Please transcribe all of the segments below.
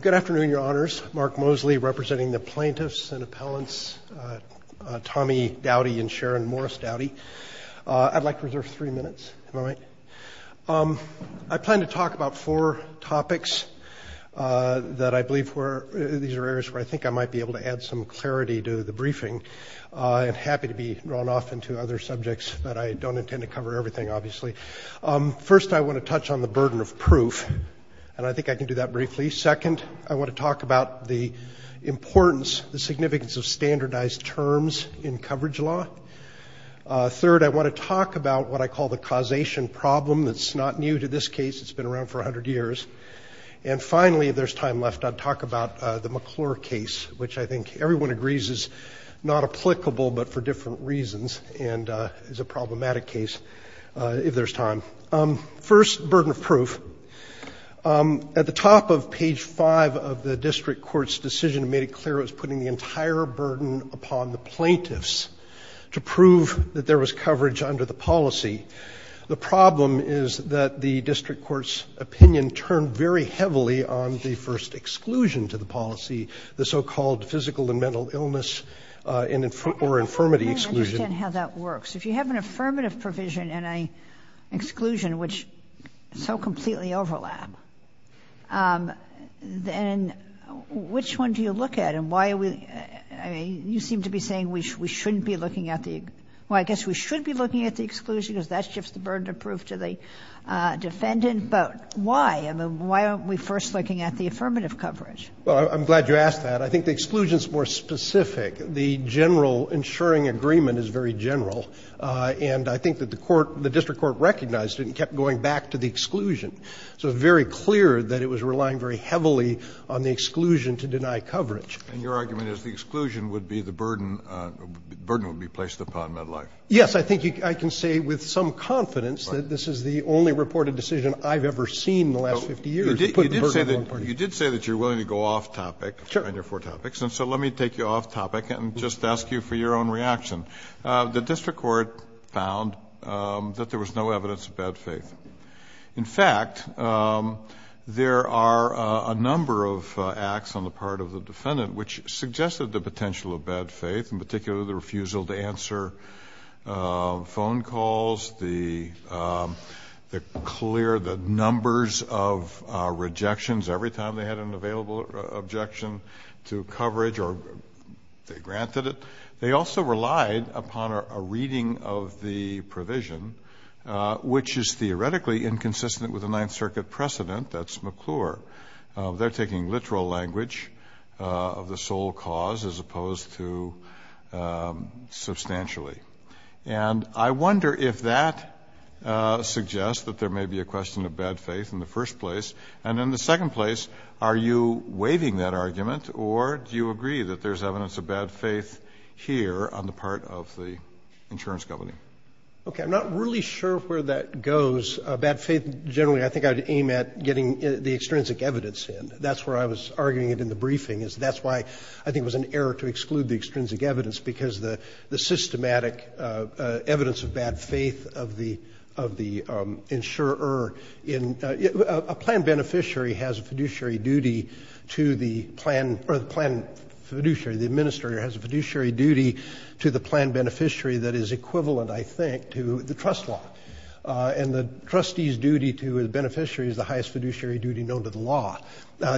Good afternoon, Your Honors. Mark Moseley representing the plaintiffs and appellants, Tommy Dowdy and Sharon Morris Dowdy. I'd like to reserve three minutes. Am I right? I plan to talk about four topics that I believe where these are areas where I think I might be able to add some clarity to the briefing. I'm happy to be drawn off into other subjects, but I don't intend to cover everything, obviously. First, I want to touch on the burden of proof, and I think I can do that briefly. Second, I want to talk about the importance, the significance of standardized terms in coverage law. Third, I want to talk about what I call the causation problem that's not new to this case. It's been around for a hundred years. And finally, if there's time left, I'll talk about the McClure case, which I think everyone agrees is not applicable, but for different reasons, and is a problematic case if there's time. First, burden of proof. At the top of page 5 of the district court's decision, it made it clear it was putting the entire burden upon the plaintiffs to prove that there was coverage under the policy. The problem is that the district court's opinion turned very heavily on the first exclusion to the policy, the so-called physical and mental illness or infirmity exclusion. I don't understand how that works. If you have an exclusion which so completely overlap, then which one do you look at and why are we, I mean, you seem to be saying we shouldn't be looking at the, well, I guess we should be looking at the exclusion because that shifts the burden of proof to the defendant, but why? I mean, why aren't we first looking at the affirmative coverage? Well, I'm glad you asked that. I think the exclusion is more specific. The general insuring agreement is very general. And I think that the court, the district court recognized it and kept going back to the exclusion. So it's very clear that it was relying very heavily on the exclusion to deny coverage. And your argument is the exclusion would be the burden, the burden would be placed upon Medline? Yes. I think I can say with some confidence that this is the only reported decision I've ever seen in the last 50 years. You did say that you're willing to go off topic on your four topics. And so let me take you off topic and just ask you for your own reaction. The district court found that there was no evidence of bad faith. In fact, there are a number of acts on the part of the defendant which suggested the potential of bad faith, in particular the refusal to answer phone calls, the clear, the numbers of rejections every time they had an available objection to coverage, or they granted it. They also relied upon a reading of the provision, which is theoretically inconsistent with the Ninth Circuit precedent. That's McClure. They're taking literal language of the sole cause as opposed to substantially. And I wonder if that suggests that there may be a question of bad faith in the first place. And in the second place, are you waiving that argument, or do you agree that there's evidence of bad faith here on the part of the insurance company? Okay. I'm not really sure where that goes. Bad faith generally I think I'd aim at getting the extrinsic evidence in. That's where I was arguing it in the briefing is that's why I think it was an error to exclude the extrinsic evidence because the systematic evidence of bad faith of the insurer in, a plan beneficiary has a fiduciary duty to the plan, or the plan fiduciary, the administrator has a fiduciary duty to the plan beneficiary that is equivalent I think to the trust law. And the trustee's duty to the beneficiary is the highest fiduciary duty known to the law.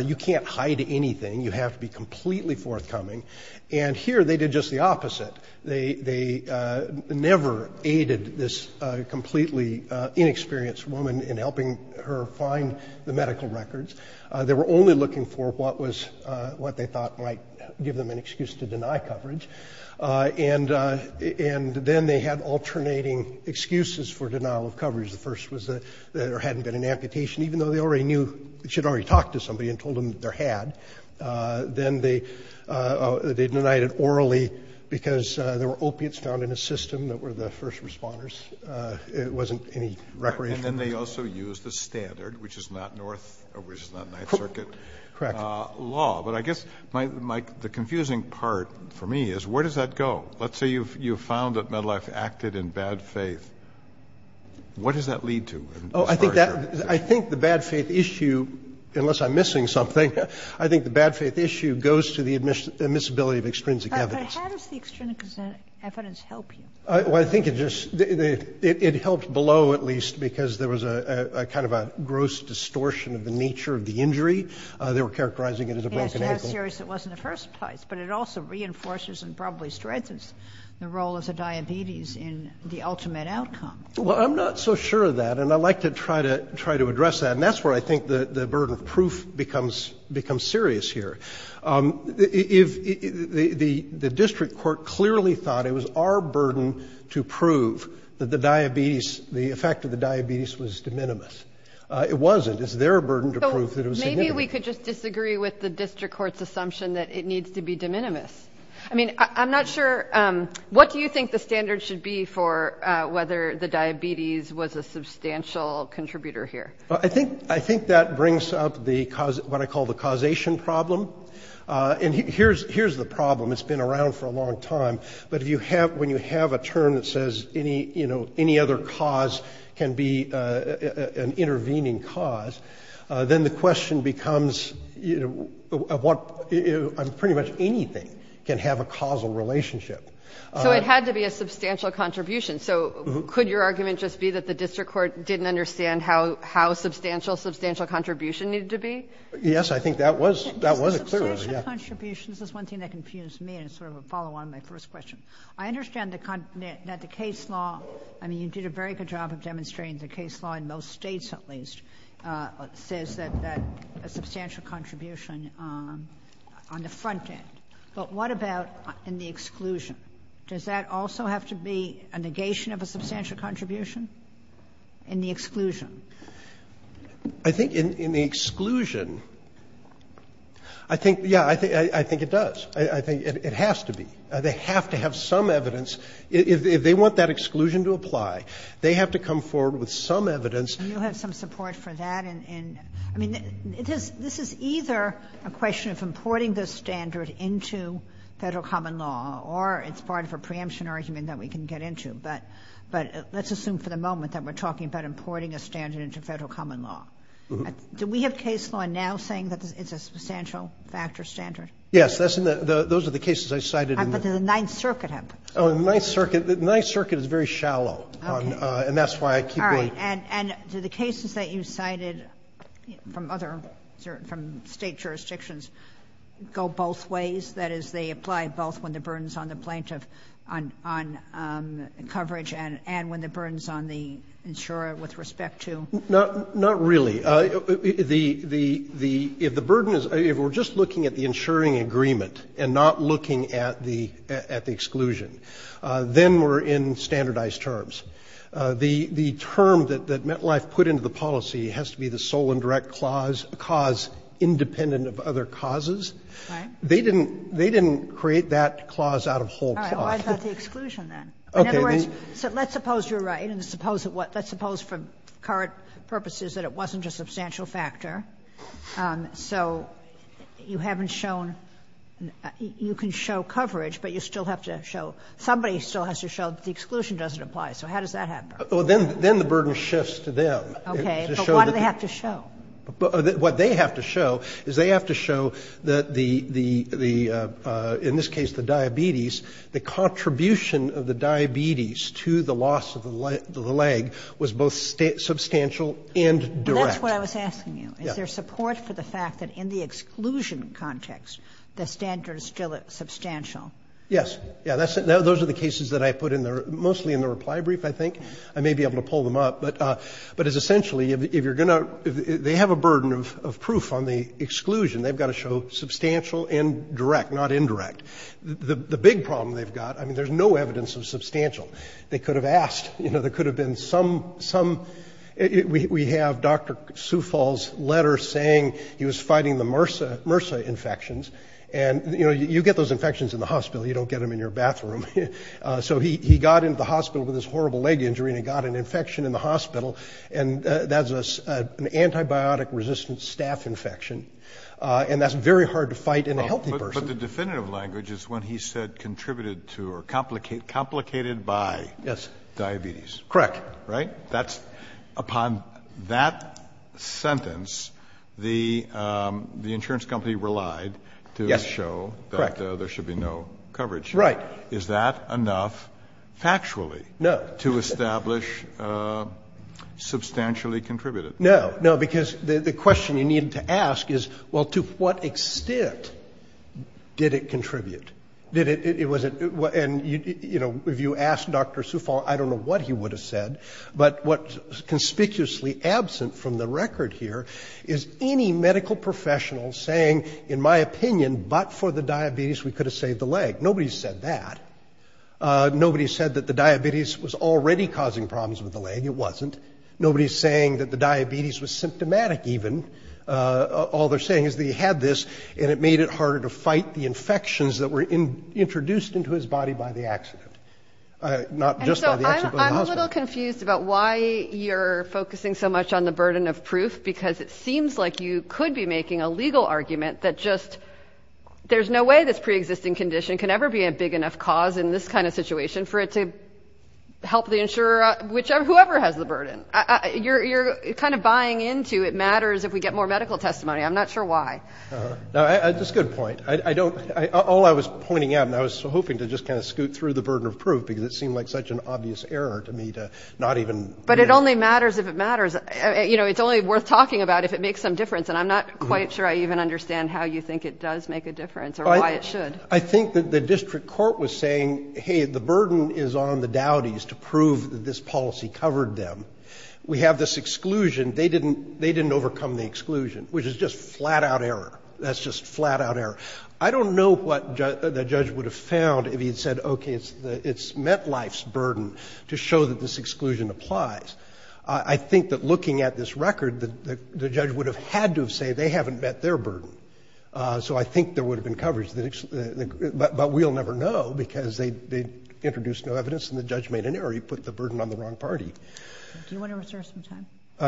You can't hide anything. You have to be completely forthcoming. And here they did just the opposite. They never aided this completely inexperienced woman in helping her find the medical records. They were only looking for what was, what they thought might give them an excuse to deny coverage. And then they had alternating excuses for denial of coverage. The first was that there hadn't been an amputation, even though they already knew they should already talk to somebody and told them that there had. Then they denied it orally because there were opiates found in the system that were the first responders. It wasn't any record. And then they also used the standard, which is not North, which is not Ninth Circuit law. But I guess the confusing part for me is where does that go? Let's say you've found that Medlife acted in bad faith. What does that lead to? Oh, I think that, I think the bad faith issue, unless I'm missing something, I think the bad faith issue goes to the admissibility of extrinsic evidence. But how does the extrinsic evidence help you? Well, I think it just, it helped below at least because there was a kind of a gross distortion of the nature of the injury. They were characterizing it as a broken ankle. Yes, to how serious it was in the first place. But it also reinforces and probably strengthens the role of the diabetes in the ultimate outcome. Well, I'm not so sure of that. And I'd like to try to address that. And that's where I think the burden of proof becomes serious here. The district court clearly thought it was our burden to prove that the diabetes, the effect of the diabetes was de minimis. It wasn't. It's their burden to prove that it was significant. Maybe we could just disagree with the district court's assumption that it needs to be de minimis. I mean, I'm not sure, what do you think the standard should be for whether the diabetes was a substantial contributor here? I think that brings up what I call the causation problem. And here's the problem. It's been around for a long time. But when you have a term that says any other cause can be an intervening cause, then the question becomes, pretty much anything can have a causal relationship. So it had to be a substantial contribution. So could your argument just be that the district court didn't understand how substantial a substantial contribution needed to be? Yes, I think that was a clear one. Substantial contribution, this is one thing that confused me, and it's sort of a follow on my first question. I understand that the case law, I mean, you did a very good job of demonstrating the case law in most states, at least, says that a substantial contribution on the front end. But what about in the exclusion? Does that also have to be a negation of a substantial contribution in the exclusion? I think in the exclusion, I think, yeah, I think it does. I think it has to be. They have to have some evidence. If they want that exclusion to apply, they have to come forward with some evidence. And you have some support for that in, I mean, this is either a question of importing this standard into federal common law, or it's part of a preemption argument that we can get into. But let's assume for the moment that we're talking about importing a standard into federal common law. Do we have case law now saying that it's a substantial factor standard? Yes, those are the cases I cited in the- But the Ninth Circuit happened. The Ninth Circuit is very shallow, and that's why I keep- And do the cases that you cited from other, from state jurisdictions, go both ways? That is, they apply both when the burden's on the plaintiff on coverage, and when the burden's on the insurer with respect to- Not really. If the burden is, if we're just looking at the insuring agreement, and not looking at the exclusion, then we're in standardized terms. The term that MetLife put into the policy has to be the sole and direct cause, independent of other causes. They didn't create that clause out of whole clause. All right, well, I've got the exclusion then. In other words, so let's suppose you're right, and let's suppose for current purposes that it wasn't a substantial factor. So you haven't shown, you can show coverage, but you still have to show, somebody still has to show that the exclusion doesn't apply. So how does that happen? Well, then the burden shifts to them. Okay, but what do they have to show? What they have to show is they have to show that the, in this case, the diabetes, the contribution of the diabetes to the loss of the leg was both substantial and direct. And that's what I was asking you. Is there support for the fact that in the exclusion context, the standard is still substantial? Yes. Yeah, those are the cases that I put in there, mostly in the reply brief, I think. I may be able to pull them up, but it's essentially, if you're going to, if they have a burden of proof on the exclusion, they've got to show substantial and direct, not indirect. The big problem they've got, I mean, there's no evidence of substantial. They could have asked, you know, there could have been some, we have Dr. Soufal's letter saying he was fighting the MRSA infections. And, you know, you get those infections in the hospital, you don't get them in your bathroom. So he got into the hospital with this horrible leg injury and he got an infection in the hospital, and that's an antibiotic-resistant staph infection. And that's very hard to fight in a healthy person. But the definitive language is when he said contributed to or complicated by diabetes. Correct. Right? That's, upon that sentence, the insurance company relied to show that there should be no coverage. Right. Is that enough, factually, to establish substantially contributed? No, no, because the question you need to ask is, well, to what extent did it contribute? Did it, it was, and, you know, if you asked Dr. Soufal, I don't know what he would have said, but what's conspicuously absent from the record here is any medical professional saying, in my opinion, but for the diabetes, we could have saved the leg. Nobody said that. Nobody said that the diabetes was already causing problems with the leg. It wasn't. Nobody's saying that the diabetes was symptomatic, even. All they're saying is that he had this and it made it harder to fight the infections that were introduced into his body by the accident, not just by the accident of the hospital. And so I'm a little confused about why you're focusing so much on the burden of proof, because it seems like you could be making a legal argument that just, there's no way this preexisting condition can ever be a big enough cause in this kind of situation for it to help the insurer, whichever, whoever has the burden. You're kind of buying into it matters if we get more medical testimony. I'm not sure why. No, that's a good point. All I was pointing out, and I was hoping to just kind of scoot through the burden of proof, because it seemed like such an obvious error to me to not even... But it only matters if it matters. You know, it's only worth talking about if it makes some difference. And I'm not quite sure I even understand how you think it does make a difference or why it should. I think that the district court was saying, hey, the burden is on the Dowdy's to prove that this policy covered them. We have this exclusion. They didn't overcome the exclusion, which is just flat-out error. That's just flat-out error. I don't know what the judge would have found if he had said, okay, it's met life's burden to show that this exclusion applies. I think that looking at this record, the judge would have had to have said, they haven't met their burden. So I think there would have been coverage, but we'll never know, because they introduced no evidence and the judge made an error. He put the burden on the wrong party. Do you want to reserve some time?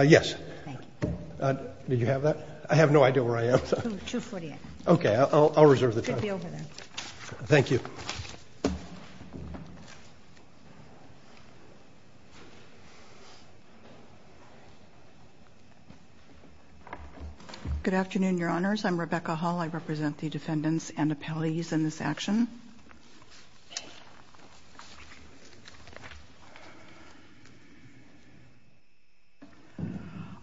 Yes. Thank you. Did you have that? I have no idea where I am. Two foot here. Okay, I'll reserve the time. It should be over there. Thank you. Good afternoon, Your Honors. I'm Rebecca Hall. I represent the defendants and appellees in this action.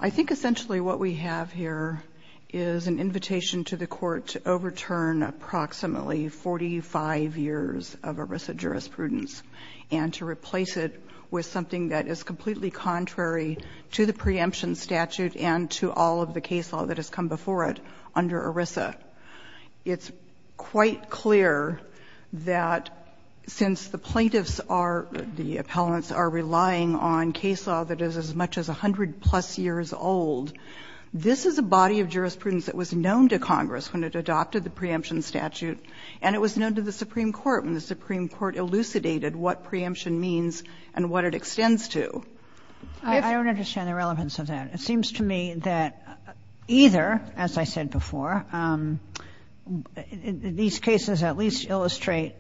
I think essentially what we have here is an invitation to the court to overturn approximately 45 years of ERISA jurisprudence and to replace it with something that is completely contrary to the preemption statute and to all of the case law that has come before it under ERISA. I'm just wondering if you could clarify that since the plaintiffs are the appellants are relying on case law that is as much as 100 plus years old, this is a body of jurisprudence that was known to Congress when it adopted the preemption statute and it was known to the Supreme Court when the Supreme Court elucidated what preemption means and what it extends to. I don't understand the relevance of that. It seems to me that either, as I said before, these cases at least illustrate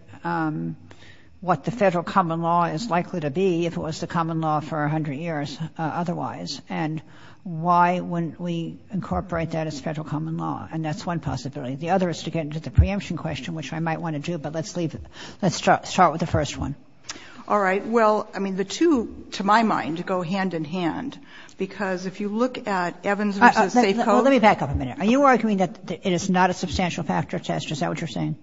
what the federal common law is likely to be if it was the common law for 100 years otherwise and why wouldn't we incorporate that as federal common law? And that's one possibility. The other is to get into the preemption question, which I might want to do, but let's leave it. Let's start with the first one. All right. Well, I mean, the two, to my mind, go hand in hand, because if you look at Evans v. Safecode. Let me back up a minute. Are you arguing that it is not a substantial factor test? Is that what you're saying?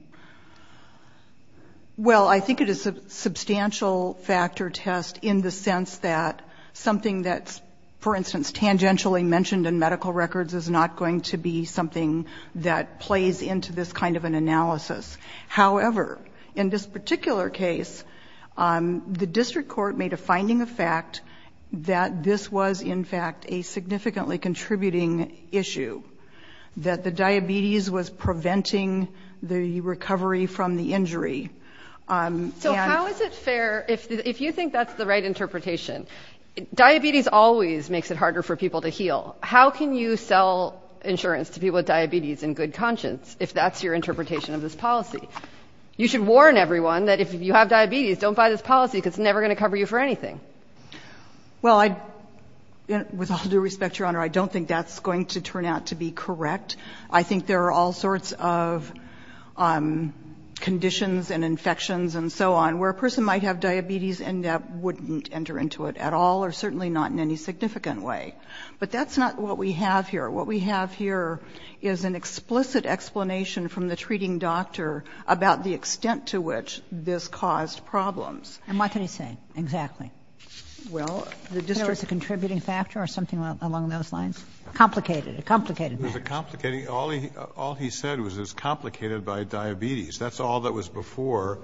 Well, I think it is a substantial factor test in the sense that something that's, for instance, tangentially mentioned in medical records is not going to be something that plays into this kind of an analysis. However, in this particular case, the district court made a finding of fact that this was, in fact, a significantly contributing issue, that the diabetes was preventing the recovery from the injury. So how is it fair, if you think that's the right interpretation, diabetes always makes it harder for people to heal. How can you sell insurance to people with diabetes in good conscience if that's your policy? You should warn everyone that if you have diabetes, don't buy this policy, because it's never going to cover you for anything. Well, I, with all due respect, Your Honor, I don't think that's going to turn out to be correct. I think there are all sorts of conditions and infections and so on where a person might have diabetes and that wouldn't enter into it at all, or certainly not in any significant way. But that's not what we have here. What we have here is an explicit explanation from the treating doctor about the extent to which this caused problems. And what can he say exactly? Well, the district. There was a contributing factor or something along those lines? Complicated, a complicated matter. It was a complicated, all he said was it was complicated by diabetes. That's all that was before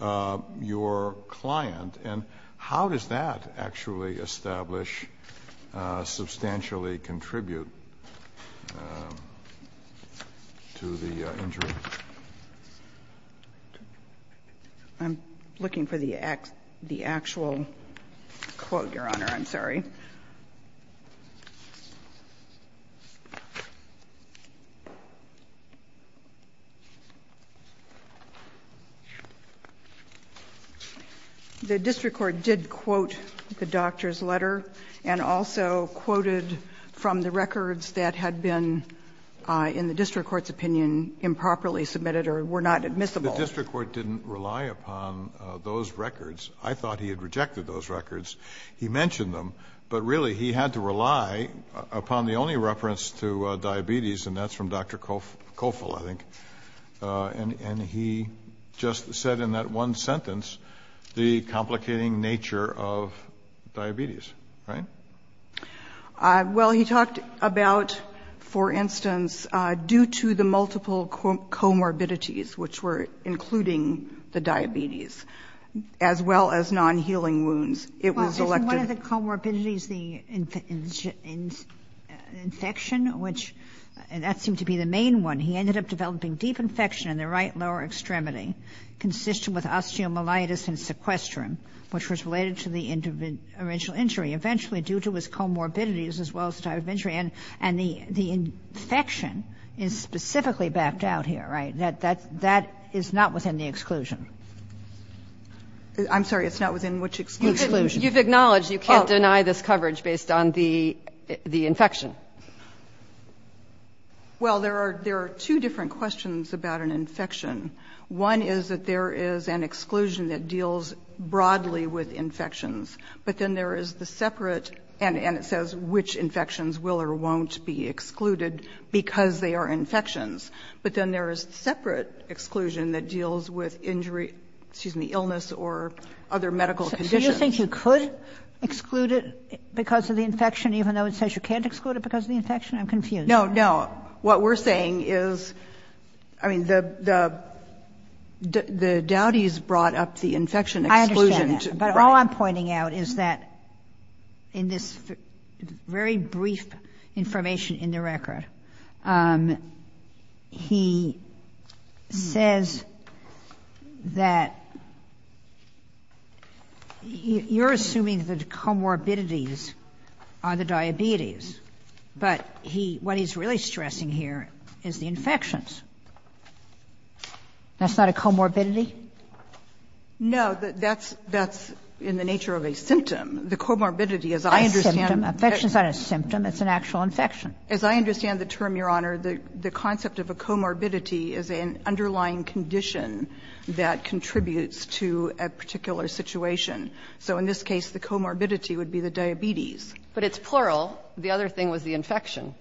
your client. And how does that actually establish, substantially contribute to the injury? I'm looking for the actual quote, Your Honor, I'm sorry. The district court did quote the doctor's letter and also quoted from the records that had been, in the district court's opinion, improperly submitted or were not admissible. The district court didn't rely upon those records. I thought he had rejected those records. But really, he had to rely upon the only reference to diabetes, and that's from Dr. Cofill, I think. And he just said in that one sentence, the complicating nature of diabetes, right? Well, he talked about, for instance, due to the multiple comorbidities, which were including the diabetes, as well as non-healing wounds. It was selected. Well, isn't one of the comorbidities the infection, which that seemed to be the main one. He ended up developing deep infection in the right lower extremity, consistent with osteomyelitis and sequestrum, which was related to the original injury. Eventually, due to his comorbidities, as well as the type of injury, and the infection is specifically backed out here, right? That is not within the exclusion. I'm sorry, it's not within which exclusion? You've acknowledged you can't deny this coverage based on the infection. Well, there are two different questions about an infection. One is that there is an exclusion that deals broadly with infections. But then there is the separate, and it says which infections will or won't be excluded because they are infections. But then there is separate exclusion that deals with injury, excuse me, illness or other medical conditions. So you think you could exclude it because of the infection, even though it says you can't exclude it because of the infection? I'm confused. No, no. What we're saying is, I mean, the Dowdy's brought up the infection exclusion. I understand that. But all I'm pointing out is that in this very brief information in the record, he says that you're assuming that the comorbidities are the diabetes, but he, what he's really stressing here is the infections. That's not a comorbidity? No, that's in the nature of a symptom. The comorbidity, as I understand it, that's not a symptom, it's an actual infection. As I understand the term, Your Honor, the concept of a comorbidity is an underlying condition that contributes to a particular situation. So in this case, the comorbidity would be the diabetes. But it's plural. The other thing was the infection.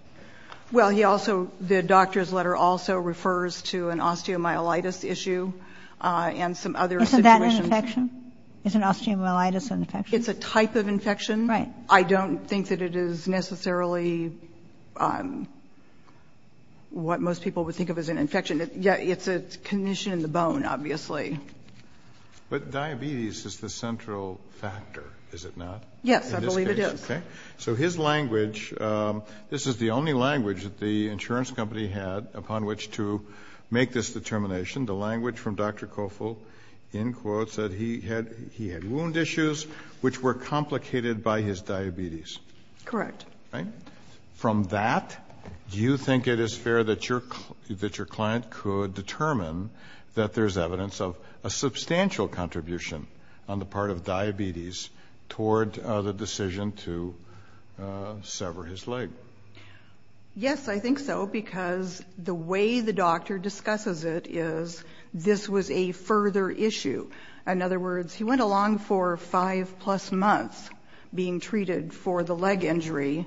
Well, he also, the doctor's letter also refers to an osteomyelitis issue and some other situations. Isn't that an infection? Isn't osteomyelitis an infection? It's a type of infection. I don't think that it is necessarily what most people would think of as an infection. It's a condition in the bone, obviously. But diabetes is the central factor, is it not? Yes, I believe it is. So his language, this is the only language that the insurance company had upon which to make this determination. The language from Dr. Koffel, in quotes, that he had wound issues which were complicated by his diabetes. Correct. Right? From that, do you think it is fair that your client could determine that there's evidence of a substantial contribution on the part of diabetes toward the decision to sever his leg? Yes, I think so, because the way the doctor discusses it is this was a further issue. In other words, he went along for five plus months being treated for the leg injury.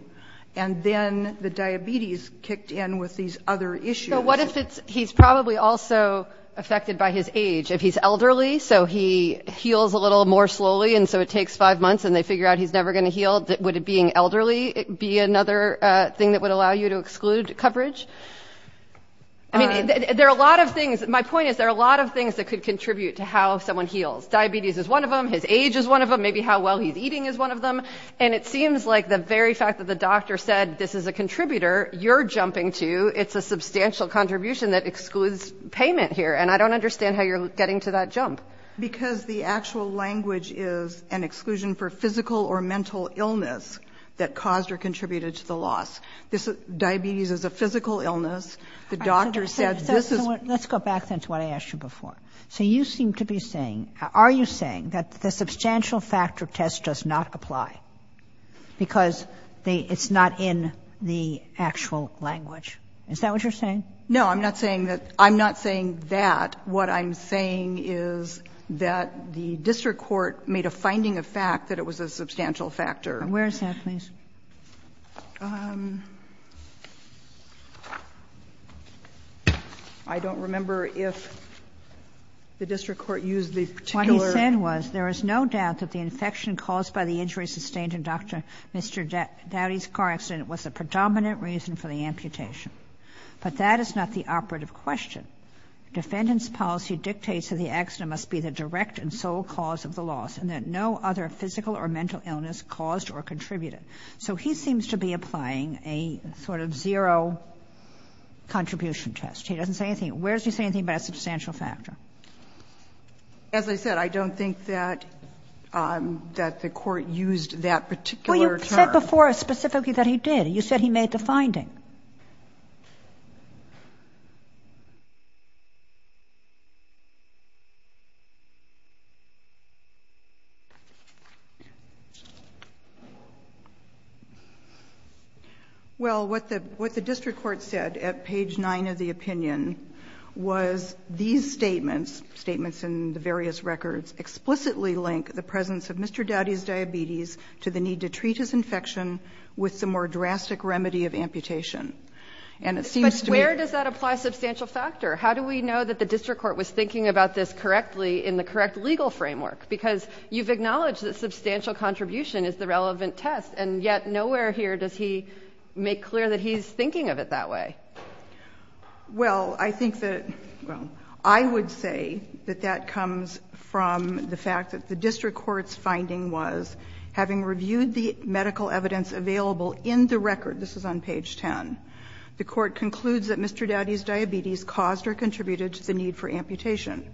And then the diabetes kicked in with these other issues. So what if he's probably also affected by his age? If he's elderly, so he heals a little more slowly, and so it takes five months and they figure out he's never going to heal, would being elderly be another thing that would allow you to exclude coverage? I mean, there are a lot of things. My point is there are a lot of things that could contribute to how someone heals. Diabetes is one of them. His age is one of them. Maybe how well he's eating is one of them. And it seems like the very fact that the doctor said this is a contributor you're jumping to, it's a substantial contribution that excludes payment here. And I don't understand how you're getting to that jump. Because the actual language is an exclusion for physical or mental illness that caused or contributed to the loss. Diabetes is a physical illness. The doctor said this is... Let's go back to what I asked you before. So you seem to be saying, are you saying that the substantial factor test does not apply because it's not in the actual language? Is that what you're saying? No, I'm not saying that. I'm not saying that. What I'm saying is that the district court made a finding of fact that it was a substantial factor. And where is that, please? I don't remember if the district court used the particular... What he said was, there is no doubt that the infection caused by the injury sustained in Dr. Dowdy's car accident was a predominant reason for the amputation. But that is not the operative question. Defendant's policy dictates that the accident must be the direct and sole cause of the loss and that no other physical or mental illness caused or contributed. So he seems to be applying a sort of zero contribution test. He doesn't say anything. Where does he say anything about a substantial factor? As I said, I don't think that the court used that particular term. Well, you said before specifically that he did. You said he made the finding. Well, what the district court said at page 9 of the opinion was these statements, statements in the various records, explicitly link the presence of Mr. Dowdy's diabetes to the need to treat his infection with some more drastic remedy of amputation. And it seems to me... But where does that apply substantial factor? How do we know that the district court was thinking about this correctly in the correct legal framework? Because you've acknowledged that substantial contribution is the relevant test, and yet nowhere here does he make clear that he's thinking of it that way. Well, I think that, well, I would say that that comes from the fact that the district court's finding was, having reviewed the medical evidence available in the record, this is on page 10, the court concludes that Mr. Dowdy's diabetes caused or contributed to the need for amputation.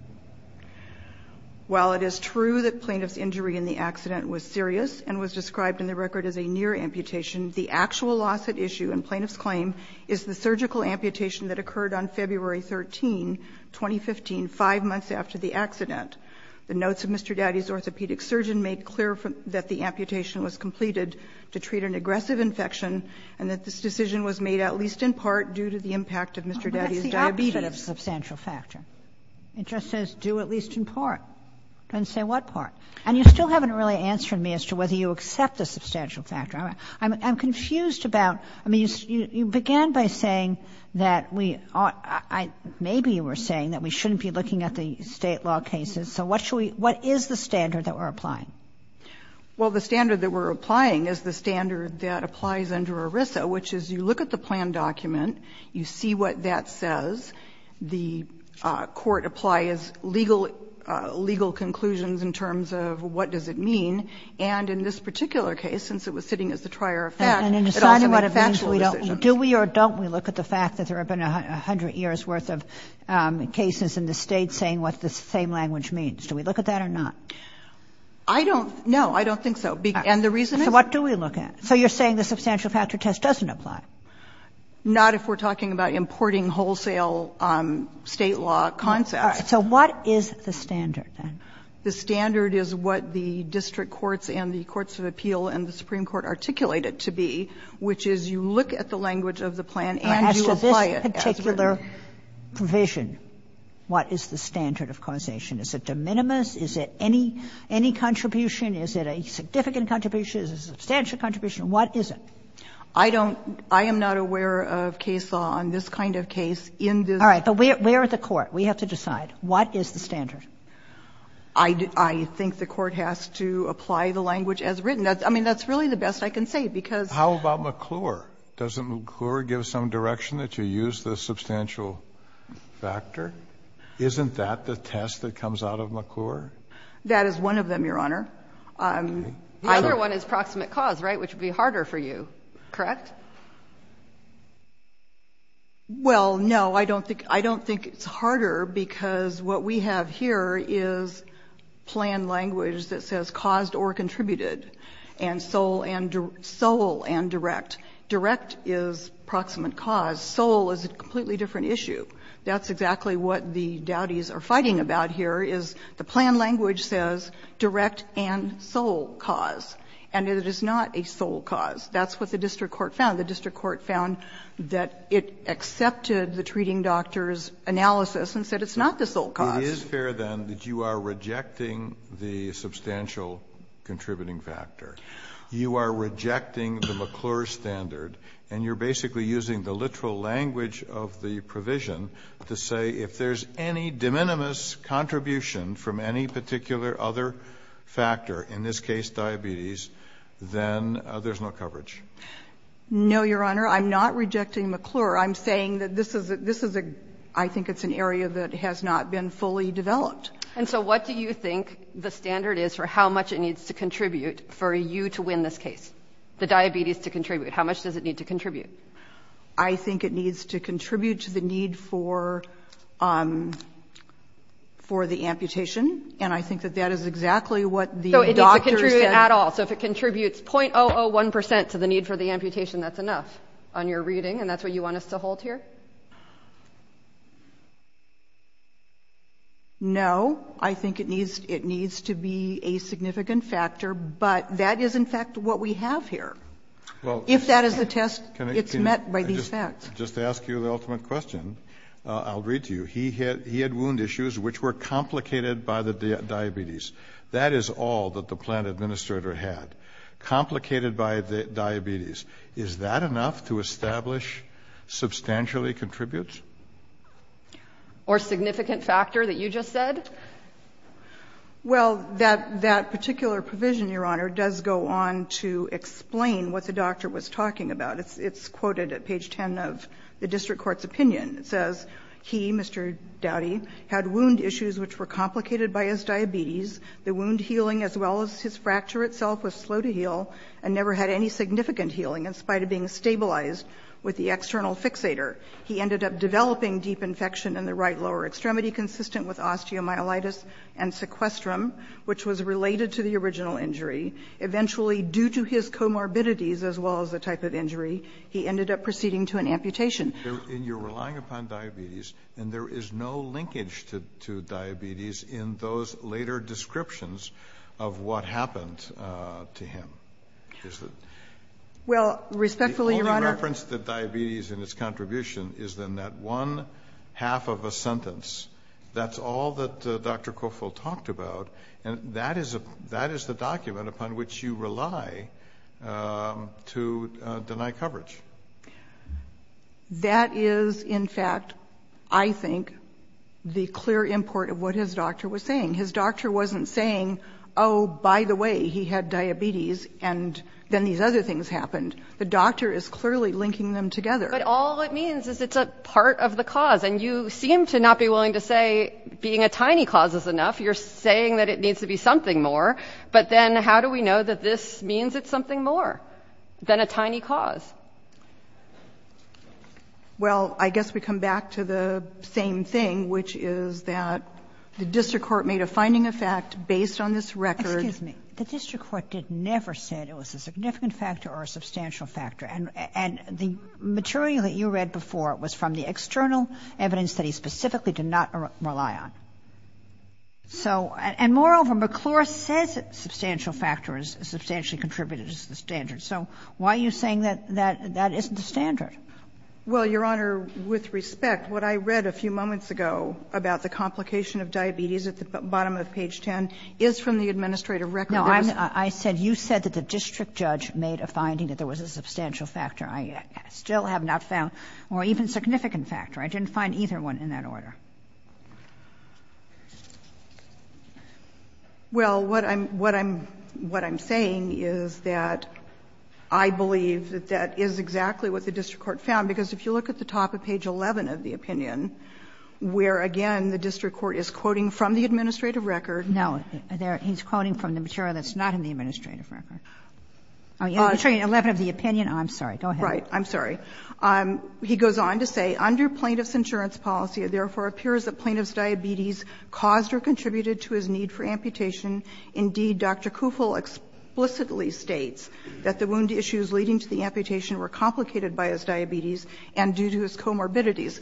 While it is true that plaintiff's injury in the accident was serious and was described in the record as a near amputation, the actual loss at issue in plaintiff's claim is the surgical amputation that occurred on February 13, 2015, 5 months after the accident. The notes of Mr. Dowdy's orthopedic surgeon made clear that the amputation was completed to treat an aggressive infection, and that this decision was made at least in part due to the impact of Mr. Dowdy's diabetes. But that's the opposite of substantial factor. It just says, do at least in part. It doesn't say what part. And you still haven't really answered me as to whether you accept the substantial factor. I'm confused about, I mean, you began by saying that we ought to — maybe you were saying that we shouldn't be looking at the State law cases. So what should we — what is the standard that we're applying? Well, the standard that we're applying is the standard that applies under ERISA, which is you look at the plan document, you see what that says, the court applies legal conclusions in terms of what does it mean, and in this particular case, since it was sitting as the trier of fact, it also makes factual decisions. So do we or don't we look at the fact that there have been 100 years' worth of cases in the State saying what the same language means? Do we look at that or not? I don't — no, I don't think so. And the reason is — So what do we look at? So you're saying the substantial factor test doesn't apply? Not if we're talking about importing wholesale State law concepts. All right. So what is the standard, then? The standard is what the district courts and the courts of appeal and the Supreme Court have said is that you look at the language of the plan and you apply it as written. As to this particular provision, what is the standard of causation? Is it de minimis? Is it any — any contribution? Is it a significant contribution? Is it a substantial contribution? What is it? I don't — I am not aware of case law on this kind of case in this — All right. But we're at the court. We have to decide. What is the standard? I think the court has to apply the language as written. I mean, that's really the best I can say, because — How about McClure? Doesn't McClure give some direction that you use the substantial factor? Isn't that the test that comes out of McClure? That is one of them, Your Honor. Another one is proximate cause, right, which would be harder for you, correct? Well, no, I don't think — I don't think it's harder, because what we have here is plan language that says caused or contributed, and sole and — sole and direct. Direct is proximate cause. Sole is a completely different issue. That's exactly what the Dowdys are fighting about here, is the plan language says direct and sole cause, and it is not a sole cause. That's what the district court found. The district court found that it accepted the treating doctor's analysis and said it's not the sole cause. It is fair, then, that you are rejecting the substantial contributing factor. You are rejecting the McClure standard, and you're basically using the literal language of the provision to say if there's any de minimis contribution from any particular other factor, in this case diabetes, then there's no coverage. No, Your Honor. I'm not rejecting McClure. I'm saying that this is a — I think it's an area that has not been fully developed. And so what do you think the standard is for how much it needs to contribute for you to win this case, the diabetes to contribute? How much does it need to contribute? I think it needs to contribute to the need for — for the amputation, and I think that that is exactly what the doctor said. So it needs to contribute at all. So if it contributes .001 percent to the need for the amputation, that's enough on your reading, and that's what you want us to hold here? No, I think it needs — it needs to be a significant factor, but that is, in fact, what we have here. Well — If that is the test, it's met by these facts. Just to ask you the ultimate question, I'll read to you. He had — he had wound issues which were complicated by the diabetes. That is all that the plant administrator had, complicated by the diabetes. Is that enough to establish substantially contributes? Or significant factor that you just said? Well, that particular provision, Your Honor, does go on to explain what the doctor was talking about. It's quoted at page 10 of the district court's opinion. It says, he, Mr. Dowdy, had wound issues which were complicated by his diabetes. The wound healing, as well as his fracture itself, was slow to heal and never had any significant healing, in spite of being stabilized with the external fixator. He ended up developing deep infection in the right lower extremity, consistent with osteomyelitis and sequestrum, which was related to the original injury. Eventually, due to his comorbidities, as well as the type of injury, he ended up proceeding to an amputation. And you're relying upon diabetes, and there is no linkage to diabetes in those later descriptions of what happened to him. Well, respectfully, Your Honor... The only reference to diabetes in his contribution is in that one half of a sentence. That's all that Dr. Cofill talked about. And that is the document upon which you rely to deny coverage. That is, in fact, I think, the clear import of what his doctor was saying. His doctor wasn't saying, oh, by the way, he had diabetes, and then these other things happened. The doctor is clearly linking them together. But all it means is it's a part of the cause. And you seem to not be willing to say being a tiny cause is enough. You're saying that it needs to be something more. But then how do we know that this means it's something more than a tiny cause? Well, I guess we come back to the same thing, which is that the district court made a finding of fact based on this record. Excuse me. The district court never said it was a significant factor or a substantial factor. And the material that you read before was from the external evidence that he specifically did not rely on. So and moreover, McClure says substantial factor is substantially contributed to the standard. So why are you saying that that isn't the standard? Well, Your Honor, with respect, what I read a few moments ago about the complication of diabetes at the bottom of page 10 is from the administrative record. No, I said you said that the district judge made a finding that there was a substantial factor. I still have not found or even significant factor. I didn't find either one in that order. Well, what I'm saying is that I believe that that is exactly what the district court found, because if you look at the top of page 11 of the opinion, where, again, the district court is quoting from the administrative record. No, he's quoting from the material that's not in the administrative record. Page 11 of the opinion. I'm sorry. Go ahead. Right. I'm sorry. He goes on to say, under plaintiff's insurance policy, it therefore appears that plaintiff's diabetes caused or contributed to his need for amputation. Indeed, Dr. Kufel explicitly states that the wound issues leading to the amputation were complicated by his diabetes and due to his comorbidities.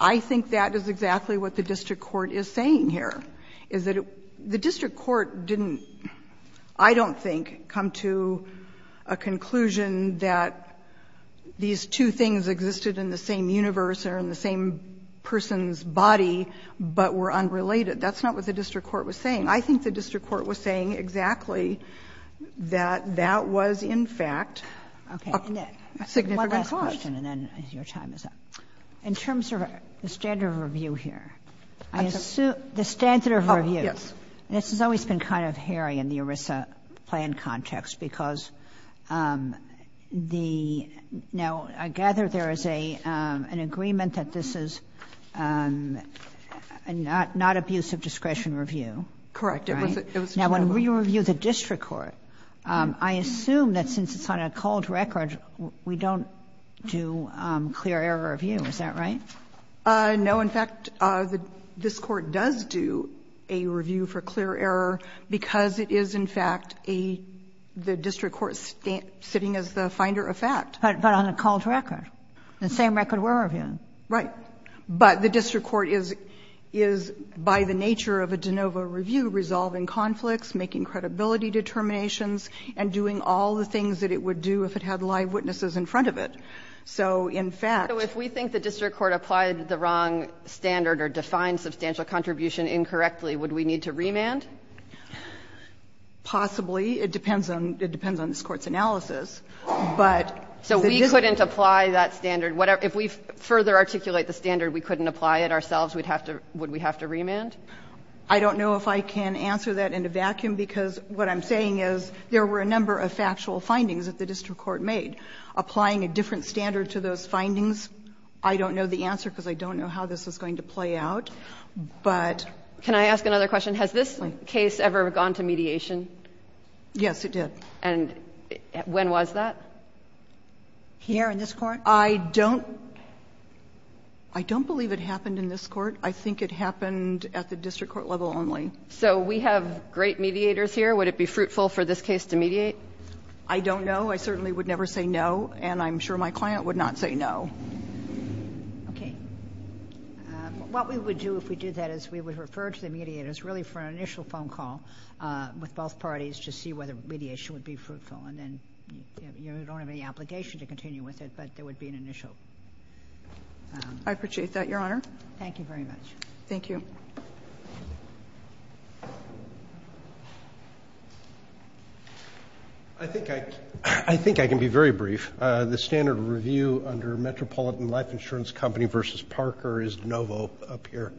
I think that is exactly what the district court is saying here, is that the district court didn't, I don't think, come to a conclusion that these two things existed in the same universe or in the same person's body, but were unrelated. That's not what the district court was saying. I think the district court was saying exactly that that was, in fact, a significant cause. One last question, and then your time is up. In terms of the standard of review here, I assume the standard of review. Yes. This has always been kind of hairy in the ERISA plan context, because the – now, I gather there is a – an agreement that this is not abuse of discretion review. Correct. It was a general rule. Now, when we review the district court, I assume that since it's on a cold record, we don't do clear error review. Is that right? No. In fact, this Court does do a review for clear error because it is, in fact, a – the district court sitting as the finder of fact. But on a cold record, the same record we're reviewing. Right. But the district court is, by the nature of a de novo review, resolving conflicts, making credibility determinations, and doing all the things that it would do if it had live witnesses in front of it. So, in fact – So if we think the district court applied the wrong standard or defined substantial contribution incorrectly, would we need to remand? Possibly. It depends on – it depends on this Court's analysis. But the district – So we couldn't apply that standard. If we further articulate the standard, we couldn't apply it ourselves, we'd have to – would we have to remand? I don't know if I can answer that in a vacuum, because what I'm saying is there were a number of factual findings that the district court made. Applying a different standard to those findings, I don't know the answer, because I don't know how this is going to play out. But – Can I ask another question? Has this case ever gone to mediation? Yes, it did. And when was that? Here in this Court? I don't – I don't believe it happened in this Court. I think it happened at the district court level only. So we have great mediators here. Would it be fruitful for this case to mediate? I don't know. I certainly would never say no, and I'm sure my client would not say no. Okay. What we would do if we did that is we would refer to the mediators, really for an initial phone call with both parties to see whether mediation would be fruitful, and then – you don't have any obligation to continue with it, but there would be an initial – I appreciate that, Your Honor. Thank you very much. Thank you. I think I – I think I can be very brief. The standard review under Metropolitan Life Insurance Company v. Parker is de novo up here.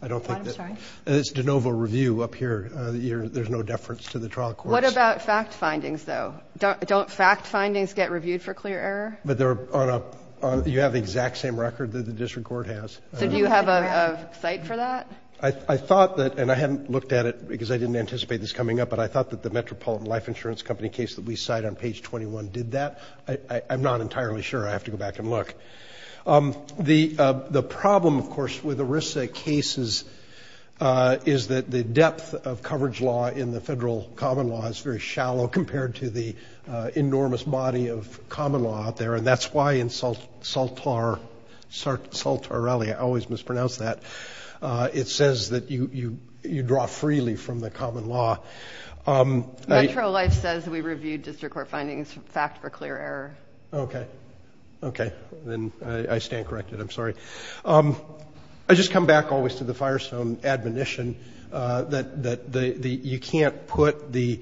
I don't think that – I'm sorry? It's de novo review up here. There's no deference to the trial courts. What about fact findings, though? Don't fact findings get reviewed for clear error? But they're on a – you have the exact same record that the district court has. So do you have a cite for that? I thought that – and I haven't looked at it because I didn't anticipate this coming up, but I thought that the Metropolitan Life Insurance Company case that we cite on page 21 did that. I'm not entirely sure. I have to go back and look. The problem, of course, with ERISA cases is that the depth of coverage law in the federal common law is very shallow compared to the enormous body of common law out there, and that's why in Saltarelli – I always mispronounce that – it says that you draw freely from the common law. Metro Life says we review district court findings fact for clear error. Okay. Okay. Then I stand corrected. I'm sorry. I just come back always to the Firestone admonition that you can't put the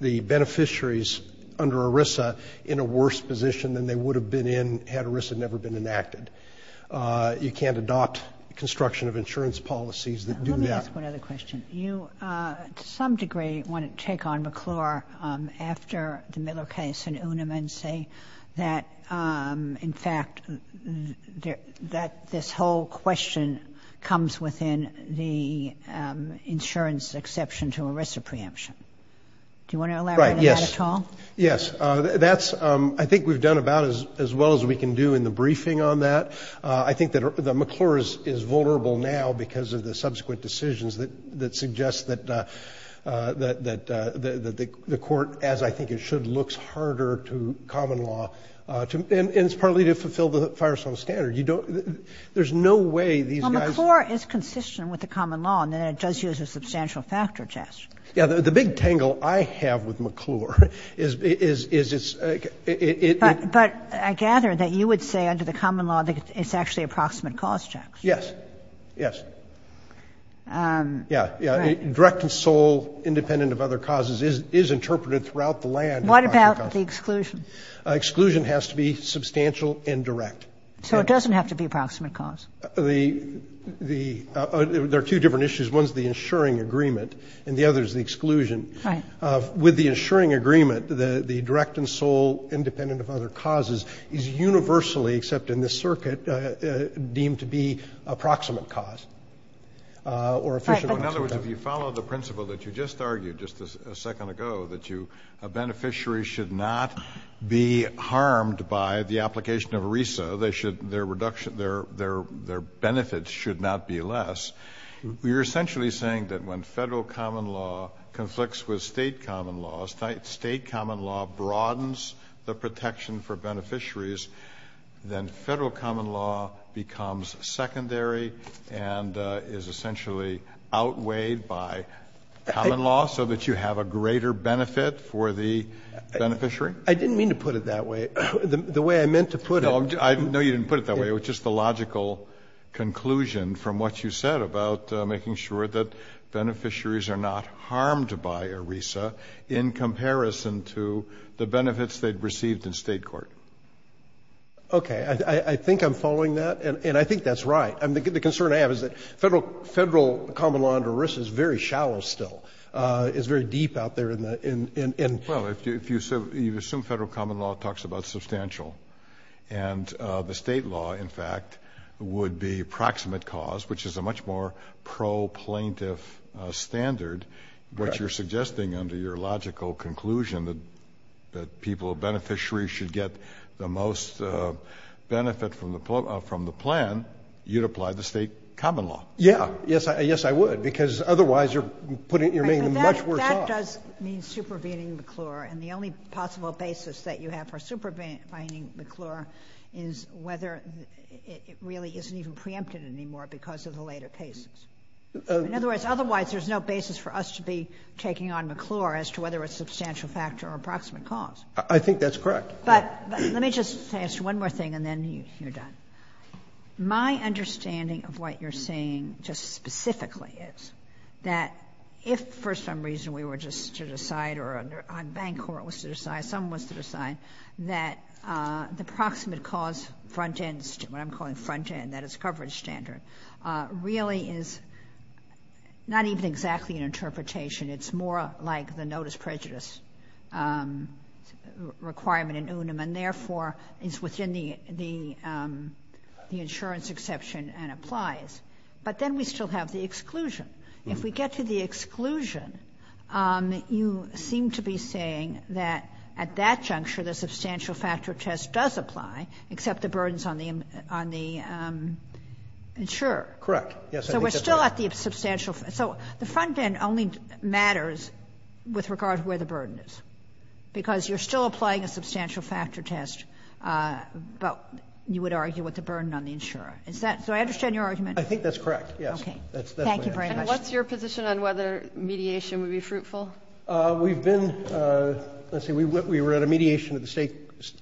beneficiaries under a worse position than they would have been in had ERISA never been enacted. You can't adopt construction of insurance policies that do that. Let me ask one other question. You, to some degree, want to take on McClure after the Miller case and Uniman say that, in fact, that this whole question comes within the insurance exception to ERISA preemption. Right. Yes. Do you want to elaborate on that at all? Yes. I think we've done about as well as we can do in the briefing on that. I think that McClure is vulnerable now because of the subsequent decisions that suggest that the court, as I think it should, looks harder to common law, and it's partly to fulfill the Firestone standard. There's no way these guys – Well, McClure is consistent with the common law, and then it does use a substantial factor test. Yeah. The big tangle I have with McClure is it's – But I gather that you would say, under the common law, that it's actually approximate cause checks. Yes. Yes. Yeah. Right. Yeah. Direct and sole, independent of other causes, is interpreted throughout the land. What about the exclusion? Exclusion has to be substantial and direct. So it doesn't have to be approximate cause. The – there are two different issues. One is the insuring agreement, and the other is the exclusion. Right. With the insuring agreement, the direct and sole, independent of other causes, is universally – except in this circuit – deemed to be approximate cause or efficient. Right. But – In other words, if you follow the principle that you just argued just a second ago, that you – a beneficiary should not be harmed by the application of a RESA. They should – their reduction – their benefits should not be less. You're essentially saying that when federal common law conflicts with state common law, state common law broadens the protection for beneficiaries, then federal common law becomes secondary and is essentially outweighed by common law so that you have a greater benefit for the beneficiary? I didn't mean to put it that way. The way I meant to put it – No. I know you didn't put it that way. It was just the logical conclusion from what you said about making sure that beneficiaries are not harmed by a RESA in comparison to the benefits they've received in state court. Okay. I think I'm following that, and I think that's right. The concern I have is that federal common law under RESA is very shallow still. It's very deep out there in the – Well, if you assume federal common law talks about substantial, and the state law, in fact, would be proximate cause, which is a much more pro-plaintiff standard, what you're suggesting under your logical conclusion that people – beneficiaries should get the most benefit from the plan, you'd apply the state common law. Yeah. Yes, I would, because otherwise you're putting – you're making much worse off. Well, that does mean supervening McClure, and the only possible basis that you have for supervening McClure is whether it really isn't even preempted anymore because of the later cases. In other words, otherwise, there's no basis for us to be taking on McClure as to whether it's substantial factor or proximate cause. I think that's correct. But let me just ask you one more thing, and then you're done. My understanding of what you're saying just specifically is that if for some reason we were just to decide or a bank court was to decide, someone was to decide, that the proximate cause front end – what I'm calling front end, that is coverage standard – really is not even exactly an interpretation. It's more like the notice prejudice requirement in UNAM and therefore is within the insurance exception and applies. But then we still have the exclusion. If we get to the exclusion, you seem to be saying that at that juncture, the substantial factor test does apply except the burdens on the insurer. Correct. Yes, I think that's right. So we're still at the substantial – so the front end only matters with regard to where the burden is because you're still applying a substantial factor test, but you would argue with the burden on the insurer. Is that – so I understand your argument. I think that's correct, yes. Okay. Thank you very much. And what's your position on whether mediation would be fruitful? We've been – let's see, we were at a mediation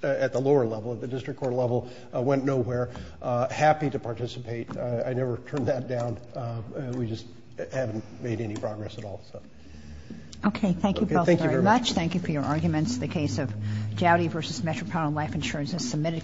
at the lower level, at the district court level, went nowhere, happy to participate. I never turned that down. We just haven't made any progress at all, so. Okay. Thank you both very much. Thank you for your arguments. The case of Dowdy v. Metropolitan Life Insurance has submitted.